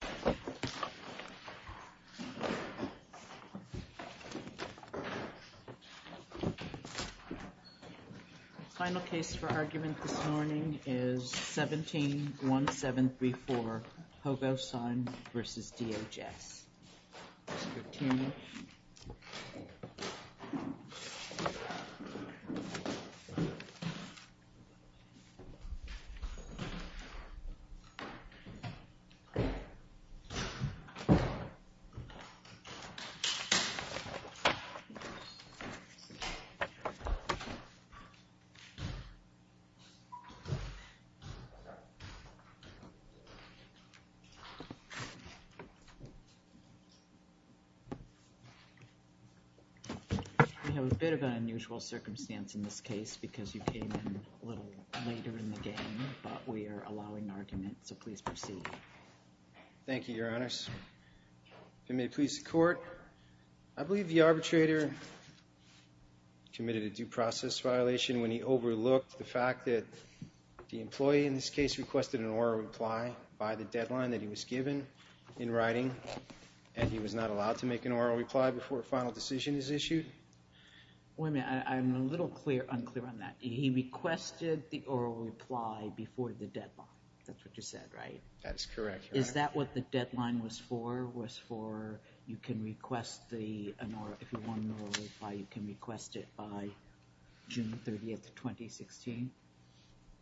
The final case for argument this morning is 17-1734, Pogosyan v. DHS. Let's look at it. We have a bit of an unusual circumstance in this case because you came in a little later in the game, but we are allowing argument, so please proceed. Thank you, Your Honors. If it may please the Court, I believe the arbitrator committed a due process violation when he overlooked the fact that the employee in this case requested an oral reply by the deadline that he was given in writing, and he was not allowed to make an oral reply before a final decision is issued. Wait a minute, I'm a little unclear on that. He requested the oral reply before the deadline. That's what you said, right? That is correct, Your Honor. Is that what the deadline was for, was for you can request the, if you want an oral reply, you can request it by June 30, 2016?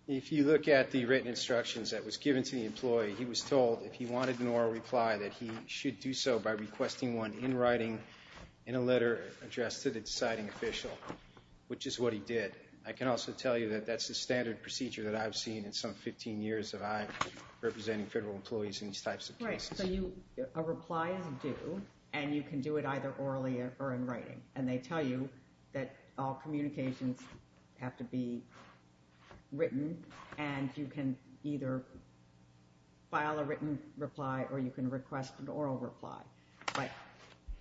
If you look at the written instructions that was given to the employee, he was told if he wanted an oral reply that he should do so by requesting one in writing in a letter addressed to the deciding official, which is what he did. I can also tell you that that's the standard procedure that I've seen in some 15 years of I representing federal employees in these types of cases. So you, a reply is due, and you can do it either orally or in writing, and they tell you that all communications have to be written, and you can either file a written reply or you can request an oral reply.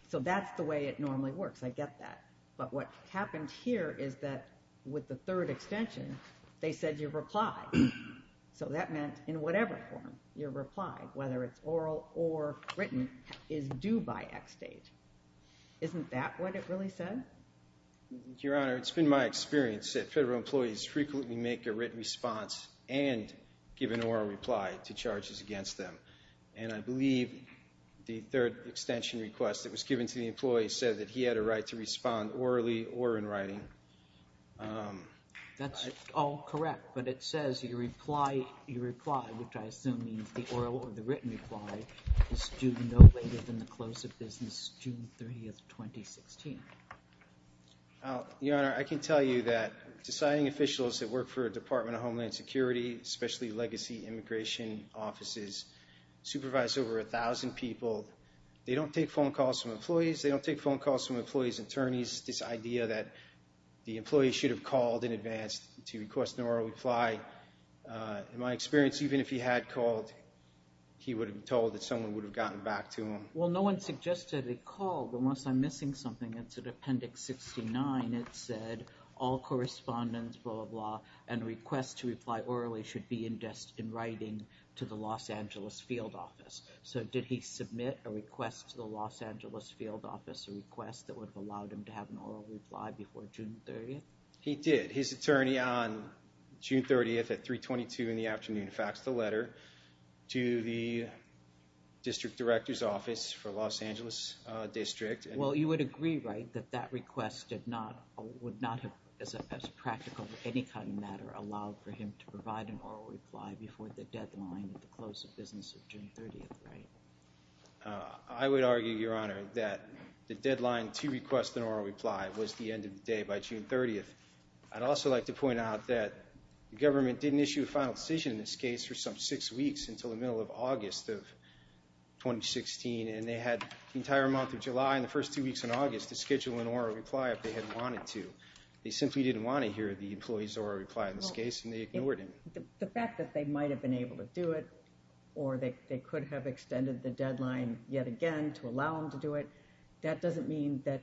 So that's the way it normally works, I get that. But what happened here is that with the third extension, they said your reply. So that meant in whatever form, your reply, whether it's oral or written, is due by X date. Isn't that what it really said? Your Honor, it's been my experience that federal employees frequently make a written response and give an oral reply to charges against them. And I believe the third extension request that was given to the employee said that he had a right to respond orally or in writing. That's all correct, but it says your reply, which I assume means the oral or the written reply, is due no later than the close of business June 3, 2016. Your Honor, I can tell you that deciding officials that work for a Department of Homeland Security, especially legacy immigration offices, supervise over 1,000 people. They don't take phone calls from employees, they don't take phone calls from employees' attorneys. This idea that the employee should have called in advance to request an oral reply, in my experience, even if he had called, he would have been told that someone would have gotten back to him. Well, no one suggested a call, but unless I'm missing something, it's in Appendix 69. It said all correspondence, blah, blah, and requests to reply orally should be in writing to the Los Angeles field office. So did he submit a request to the Los Angeles field office, a request that would have allowed him to have an oral reply before June 30? He did. His attorney on June 30 at 3.22 in the afternoon faxed a letter to the district director's office for Los Angeles District. Well, you would agree, right, that that request would not have, as practical as any kind of matter, allowed for him to provide an oral reply before the deadline of the close of business of June 30, right? I would argue, Your Honor, that the deadline to request an oral reply was the end of the day by June 30. I'd also like to point out that the government didn't issue a final decision in this case for some six weeks until the middle of August of 2016, and they had the entire month of July and the first two weeks of August to schedule an oral reply if they had wanted to. They simply didn't want to hear the employee's oral reply in this case, and they ignored him. The fact that they might have been able to do it or they could have extended the deadline yet again to allow him to do it, that doesn't mean that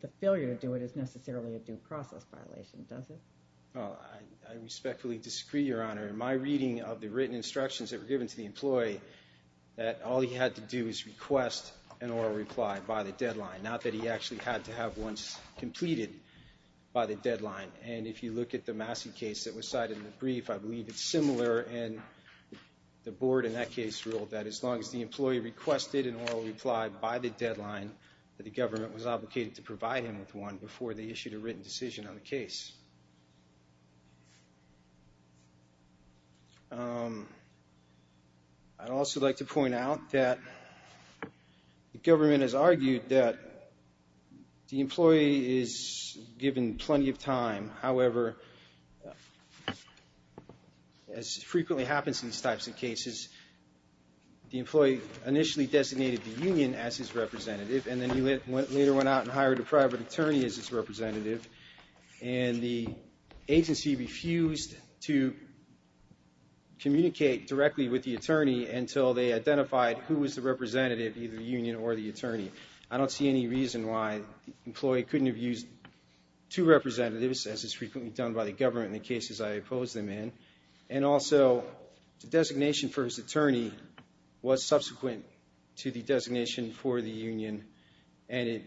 the failure to do it is necessarily a due process violation, does it? Well, I respectfully disagree, Your Honor. In my reading of the written instructions that were given to the employee, that all he had to do is request an oral reply by the deadline, not that he actually had to have one completed by the deadline. And if you look at the Massey case that was cited in the brief, I believe it's similar. And the board in that case ruled that as long as the employee requested an oral reply by the deadline, that the government was obligated to provide him with one before they issued a written decision on the case. I'd also like to point out that the government has argued that the employee is given plenty of time. However, as frequently happens in these types of cases, the employee initially designated the union as his representative, and then he later went out and hired a private attorney as his representative. And the agency refused to communicate directly with the attorney until they identified who was the representative, either the union or the attorney. I don't see any reason why the employee couldn't have used two representatives, as is frequently done by the government in the cases I oppose them in. And also, the designation for his attorney was subsequent to the designation for the union, and it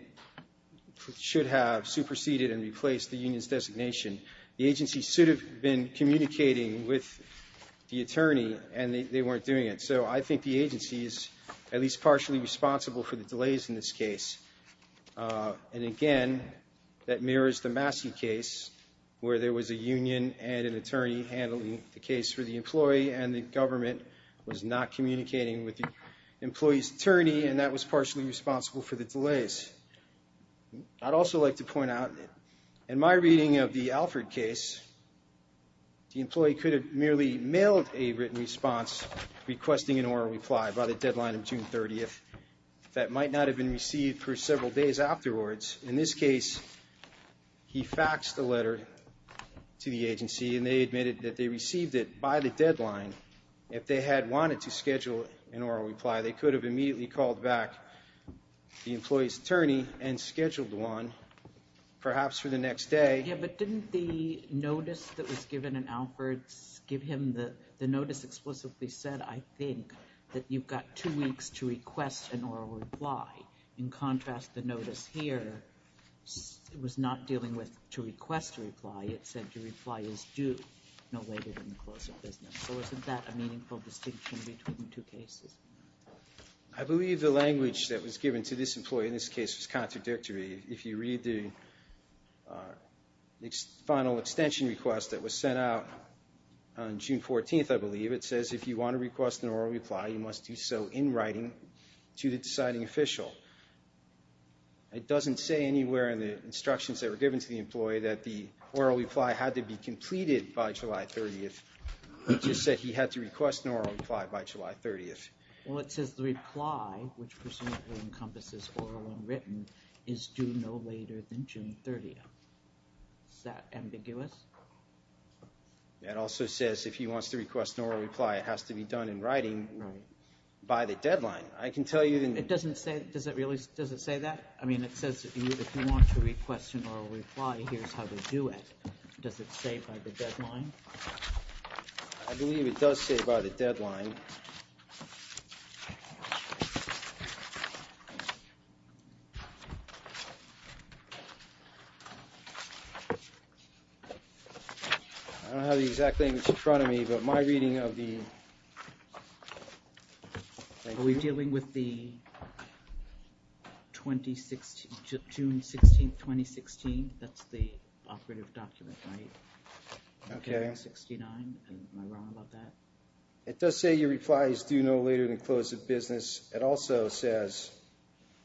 should have superseded and replaced the union's designation. The agency should have been communicating with the attorney, and they weren't doing it. So I think the agency is at least partially responsible for the delays in this case. And again, that mirrors the Massey case, where there was a union and an attorney handling the case for the employee, and the government was not communicating with the employee's attorney, and that was partially responsible for the delays. I'd also like to point out, in my reading of the Alford case, the employee could have merely mailed a written response requesting an oral reply by the deadline of June 30th. That might not have been received for several days afterwards. In this case, he faxed a letter to the agency, and they admitted that they received it by the deadline. If they had wanted to schedule an oral reply, they could have immediately called back the employee's attorney and scheduled one, perhaps for the next day. Yeah, but didn't the notice that was given in Alford give him the notice explicitly said, I think, that you've got two weeks to request an oral reply? In contrast, the notice here was not dealing with to request a reply. It said your reply is due no later than the close of business. So isn't that a meaningful distinction between the two cases? I believe the language that was given to this employee in this case was contradictory. If you read the final extension request that was sent out on June 14th, I believe, it says if you want to request an oral reply, you must do so in writing to the deciding official. It doesn't say anywhere in the instructions that were given to the employee that the oral reply had to be completed by July 30th. It just said he had to request an oral reply by July 30th. Well, it says the reply, which presumably encompasses oral and written, is due no later than June 30th. Is that ambiguous? It also says if he wants to request an oral reply, it has to be done in writing by the deadline. It doesn't say that? I mean, it says if you want to request an oral reply, here's how to do it. Does it say by the deadline? I believe it does say by the deadline. I don't have the exact thing that's in front of me, but my reading of the... Are we dealing with the June 16th, 2016? That's the operative document, right? Okay. It does say your reply is due no later than close of business. It also says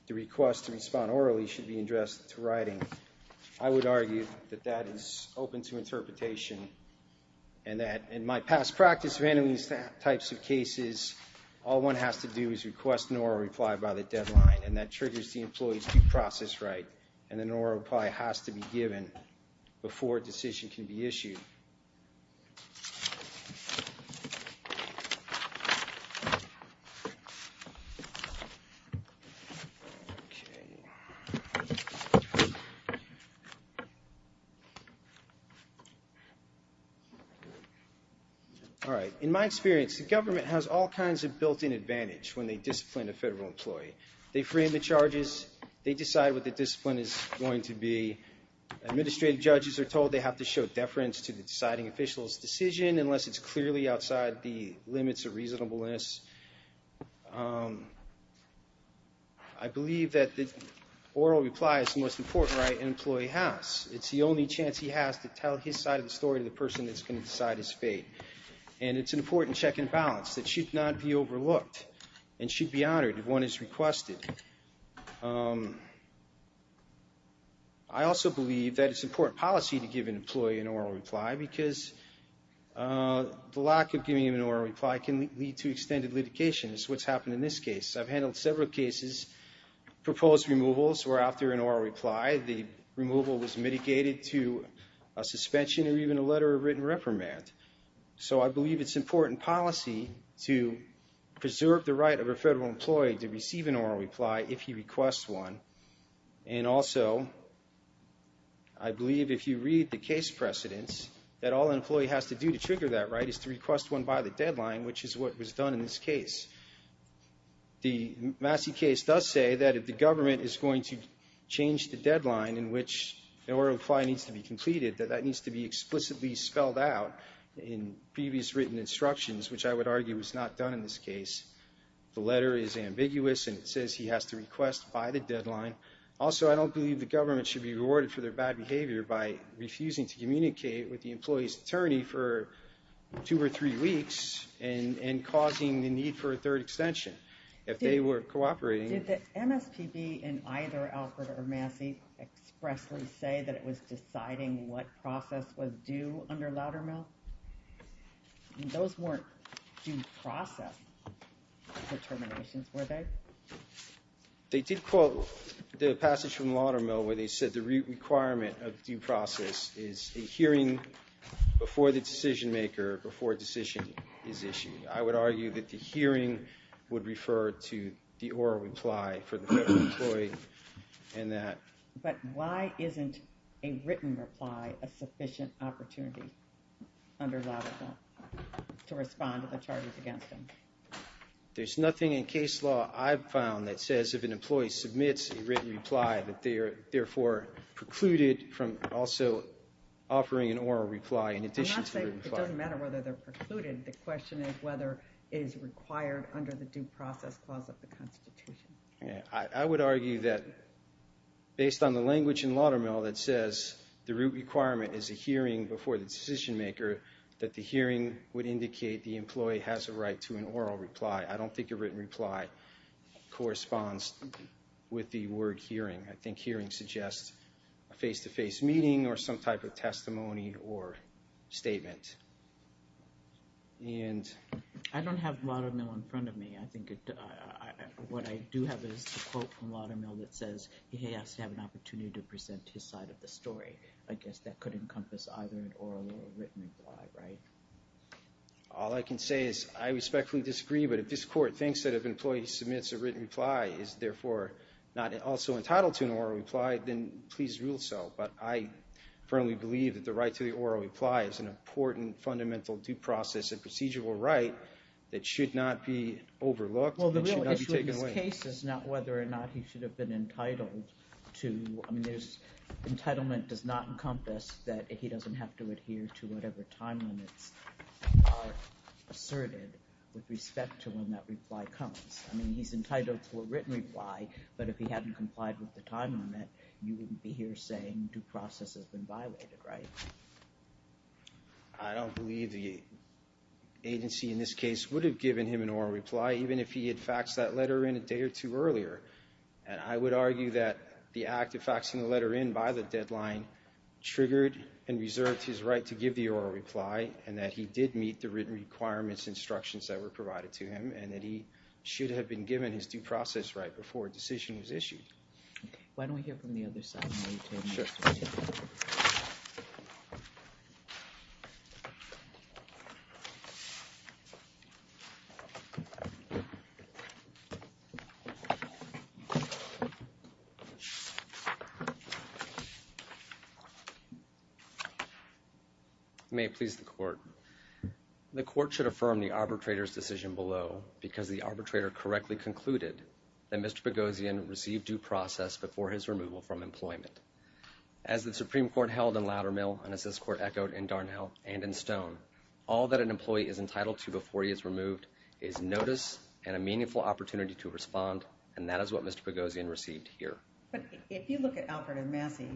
the request to respond orally should be addressed to writing. I would argue that that is open to interpretation, and that in my past practice of handling these types of cases, all one has to do is request an oral reply by the deadline, and that triggers the employee's due process right, and an oral reply has to be given before a decision can be issued. In my experience, the government has all kinds of built-in advantage when they discipline a federal employee. They frame the charges, they decide what the discipline is going to be. Administrative judges are told they have to show deference to the deciding official's decision unless it's clearly outside the limits of reasonableness. I believe that the oral reply is the most important right an employee has. It's the only chance he has to tell his side of the story to the person that's going to decide his fate. And it's an important check and balance that should not be overlooked, and should be honored if one is requested. I also believe that it's important policy to give an employee an oral reply, because the lack of giving an oral reply can lead to extended litigation, as what's happened in this case. I've handled several cases, proposed removals were out there in oral reply. The removal was mitigated to a suspension or even a letter of written reprimand. So I believe it's important policy to preserve the right of a federal employee to receive an oral reply if he requests one. And also, I believe if you read the case precedents, that all an employee has to do to trigger that right is to request one by the deadline, which is what was done in this case. The Massey case does say that if the government is going to change the deadline in which an oral reply needs to be completed, that that needs to be explicitly spelled out in previous written instructions, which I would argue was not done in this case. The letter is ambiguous, and it says he has to request by the deadline. Also, I don't believe the government should be rewarded for their bad behavior by refusing to communicate with the employee's attorney for two or three weeks, and causing the need for a third extension if they were cooperating. Did the MSPB in either Alfred or Massey expressly say that it was deciding what process was due under Loudermill? Those weren't due process determinations, were they? They did quote the passage from Loudermill where they said the requirement of due process is a hearing before the decision maker, before a decision is issued. I would argue that the hearing would refer to the oral reply for the federal employee. But why isn't a written reply a sufficient opportunity under Loudermill to respond to the charges against him? There's nothing in case law I've found that says if an employee submits a written reply that they are therefore precluded from also offering an oral reply in addition to the written reply. It doesn't matter whether they're precluded, the question is whether it is required under the due process clause of the Constitution. I would argue that based on the language in Loudermill that says the root requirement is a hearing before the decision maker, that the hearing would indicate the employee has a right to an oral reply. I don't think a written reply corresponds with the word hearing. I think hearing suggests a face-to-face meeting or some type of testimony or statement. I don't have Loudermill in front of me. What I do have is a quote from Loudermill that says he has to have an opportunity to present his side of the story. I guess that could encompass either an oral or written reply, right? All I can say is I respectfully disagree, but if this court thinks that if an employee submits a written reply is therefore not also entitled to a written reply, then please rule so. But I firmly believe that the right to the oral reply is an important fundamental due process and procedural right that should not be overlooked and should not be taken away. Well the real issue in this case is not whether or not he should have been entitled to, I mean his entitlement does not encompass that he doesn't have to adhere to whatever time limits are asserted with respect to when that reply comes. I mean he's entitled to a written reply, but if he hadn't complied with the time limit, you wouldn't be here saying due process has been violated, right? I don't believe the agency in this case would have given him an oral reply even if he had faxed that letter in a day or two earlier. And I would argue that the act of faxing the letter in by the deadline triggered and reserved his right to give the oral reply and that he did meet the written requirements and instructions that were provided to him and that he should have been given his due process right before a decision was issued. Why don't we hear from the other side? May it please the court. The court should affirm the arbitrator's decision below because the arbitrator correctly concluded that Mr. Boghossian received due process before his removal from employment. As the Supreme Court held in Loudermill and as this court echoed in Darnell and in Stone, all that an employee is entitled to before he is removed is notice and a meaningful opportunity to respond, and that is what Mr. Boghossian received here. But if you look at Alfred and Massey,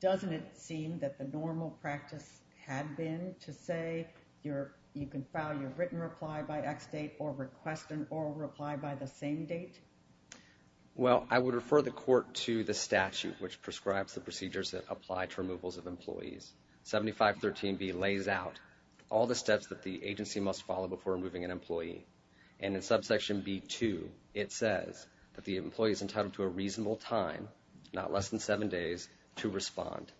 doesn't it seem that the normal practice had been to say you can file your written reply by X date or request an oral reply by the same date? Well, I would refer the court to the statute which prescribes the procedures that apply to removals of employees. 7513B lays out all the steps that the agency must follow before removing an employee. And in subsection B2, it says that the employee is entitled to a reasonable time, not less than seven days, to respond.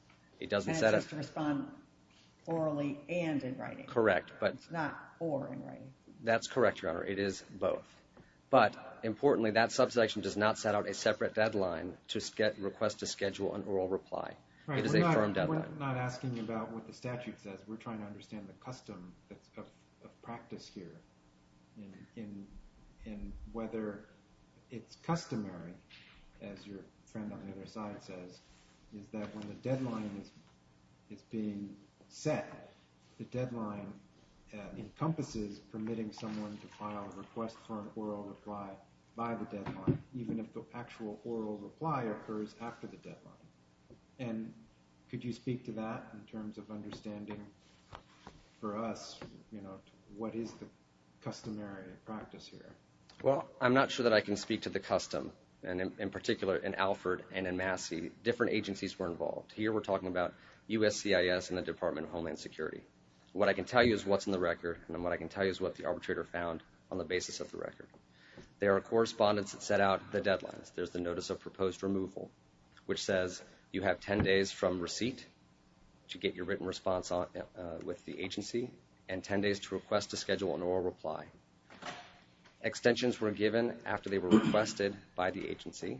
That's just to respond orally and in writing, not or in writing. That's correct, Your Honor. It is both. But importantly, that subsection does not set out a separate deadline to request a schedule and oral reply. We're not asking about what the statute says. We're trying to understand the custom of practice here and whether it's customary, as your friend on the other side says, is that when the deadline is being set, the deadline encompasses permitting someone to file a request for an oral reply by the deadline, even if the actual oral reply occurs after the deadline. And could you speak to that in terms of understanding for us what is the customary practice here? Well, I'm not sure that I can speak to the custom, and in particular in Alford and in Massey, different agencies were involved. Here we're talking about USCIS and the Department of Homeland Security. What I can tell you is what's in the record, and what I can tell you is what the arbitrator found on the basis of the record. There are correspondence that set out the deadlines. There's the notice of proposed removal, which says you have 10 days from receipt to get your written response with the agency, and 10 days to request a schedule and oral reply. Extensions were given after they were requested by the agency,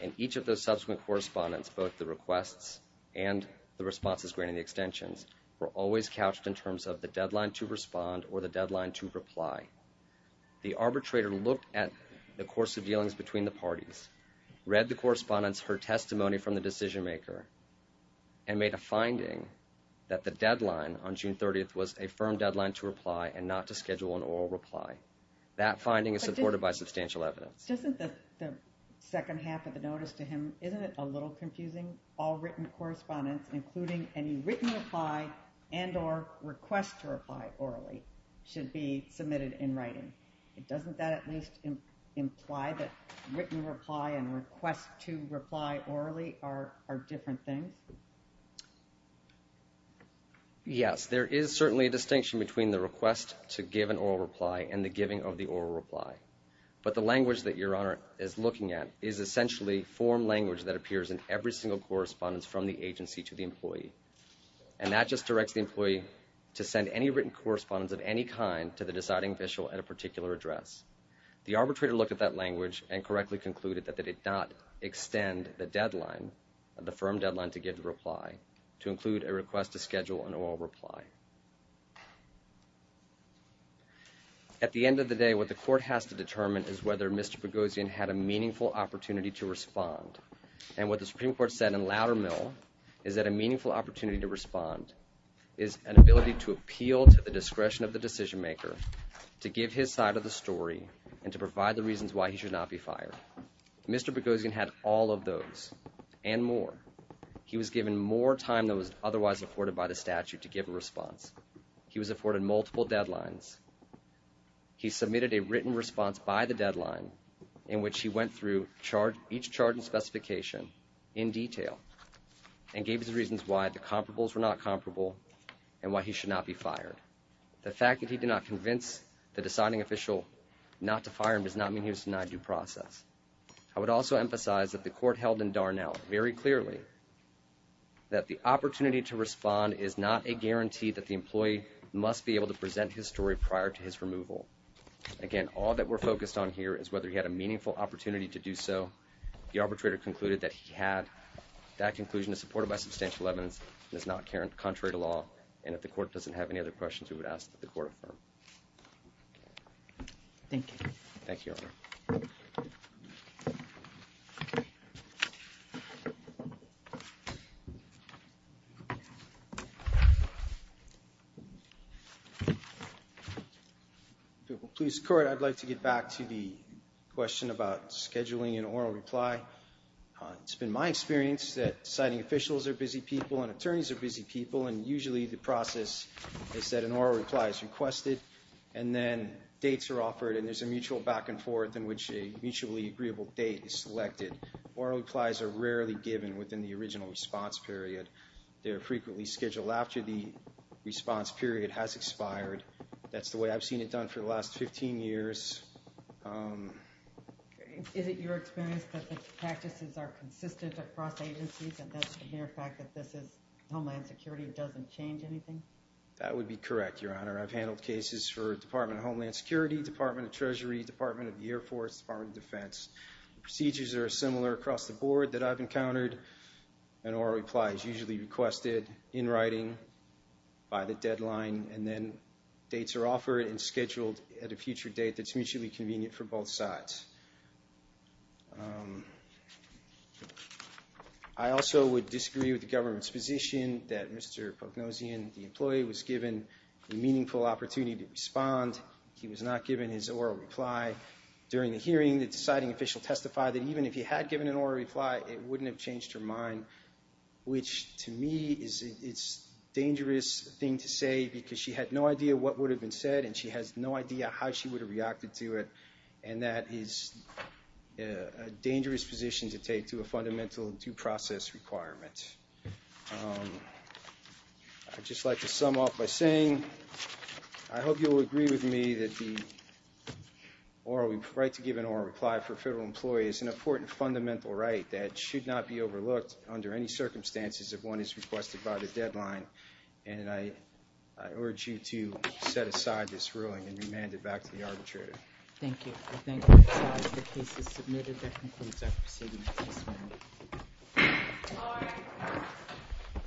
and each of those subsequent correspondence, both the requests and the responses granting the extensions, were always couched in terms of the deadline to respond or the deadline to reply. The arbitrator looked at the course of dealings between the parties, read the correspondence, heard testimony from the decision maker, and made a finding that the deadline on June 30th was a firm deadline to reply and not to schedule an oral reply. That finding is supported by substantial evidence. But isn't the second half of the notice to him, isn't it a little confusing? All written correspondence, including any written reply and or request to reply orally, should be submitted in writing. Doesn't that at least imply that written reply and request to reply orally are different things? Yes, there is certainly a distinction between the request to give an oral reply and the giving of the oral reply. But the language that Your Honor is looking at is essentially form language that appears in every single correspondence from the agency to the employee. And that just directs the employee to send any written correspondence of any kind to the deciding official at a particular address. The arbitrator looked at that language and correctly concluded that they did not extend the deadline, the firm deadline to give the reply, to include a request to schedule an oral reply. At the end of the day, what the court has to determine is whether Mr. Boghossian had a meaningful opportunity to respond. And what the Supreme Court said in louder mail is that a meaningful opportunity to respond is an ability to appeal to the discretion of the decision maker to give his side of the story and to provide the reasons why he should not be fired. Mr. Boghossian had all of those and more. He was given more time than was otherwise afforded by the statute to give a response. He was afforded multiple deadlines. He submitted a written response by the deadline in which he went through each charge and specification in detail and gave his reasons why the comparables were not comparable and why he should not be fired. The fact that he did not convince the deciding official not to fire him does not mean he was denied due process. I would also emphasize that the court held in Darnell very clearly that the opportunity to respond is not a guarantee that the employee must be able to present his story prior to his removal. Again, all that we're focused on here is whether he had a meaningful opportunity to do so. The arbitrator concluded that he had that conclusion is supported by substantial evidence and is not contrary to law. And if the court doesn't have any other questions, we would ask that the court affirm. Thank you. Police court, I'd like to get back to the question about scheduling an oral reply. It's been my experience that deciding officials are busy people and attorneys are busy people and usually the process is that an oral reply is requested and then dates are offered and there's a mutual back and forth in which a mutually agreeable date is selected. Oral replies are rarely given within the original response period. They're frequently scheduled after the response period has expired. That's the way I've seen it done for the last 15 years. Is it your experience that the practices are consistent across agencies? And that's the mere fact that this is Homeland Security, it doesn't change anything? That would be correct, Your Honor. I've handled cases for Department of Homeland Security, Department of Treasury, Department of the Air Force, Department of Defense. Procedures are similar across the board that I've encountered. An oral reply is usually requested in writing by the deadline and then dates are offered and scheduled at a future date that's mutually convenient for both sides. I also would disagree with the government's position that Mr. Pognosian, the employee, was given a meaningful opportunity to respond. He was not given his oral reply during the hearing. The deciding official testified that even if he had given an oral reply, it wouldn't have changed her mind, which to me is a dangerous thing to say because she had no idea what would have been said and she has no idea how she would have reacted to it. And that is a dangerous position to take to a fundamental due process requirement. I'd just like to sum up by saying I hope you will agree with me that the right to give an oral reply for a federal employee is an important fundamental right that should not be overlooked under any circumstances if one is requested by the deadline, and I urge you to set aside this ruling and remand it back to the arbitrator. Thank you.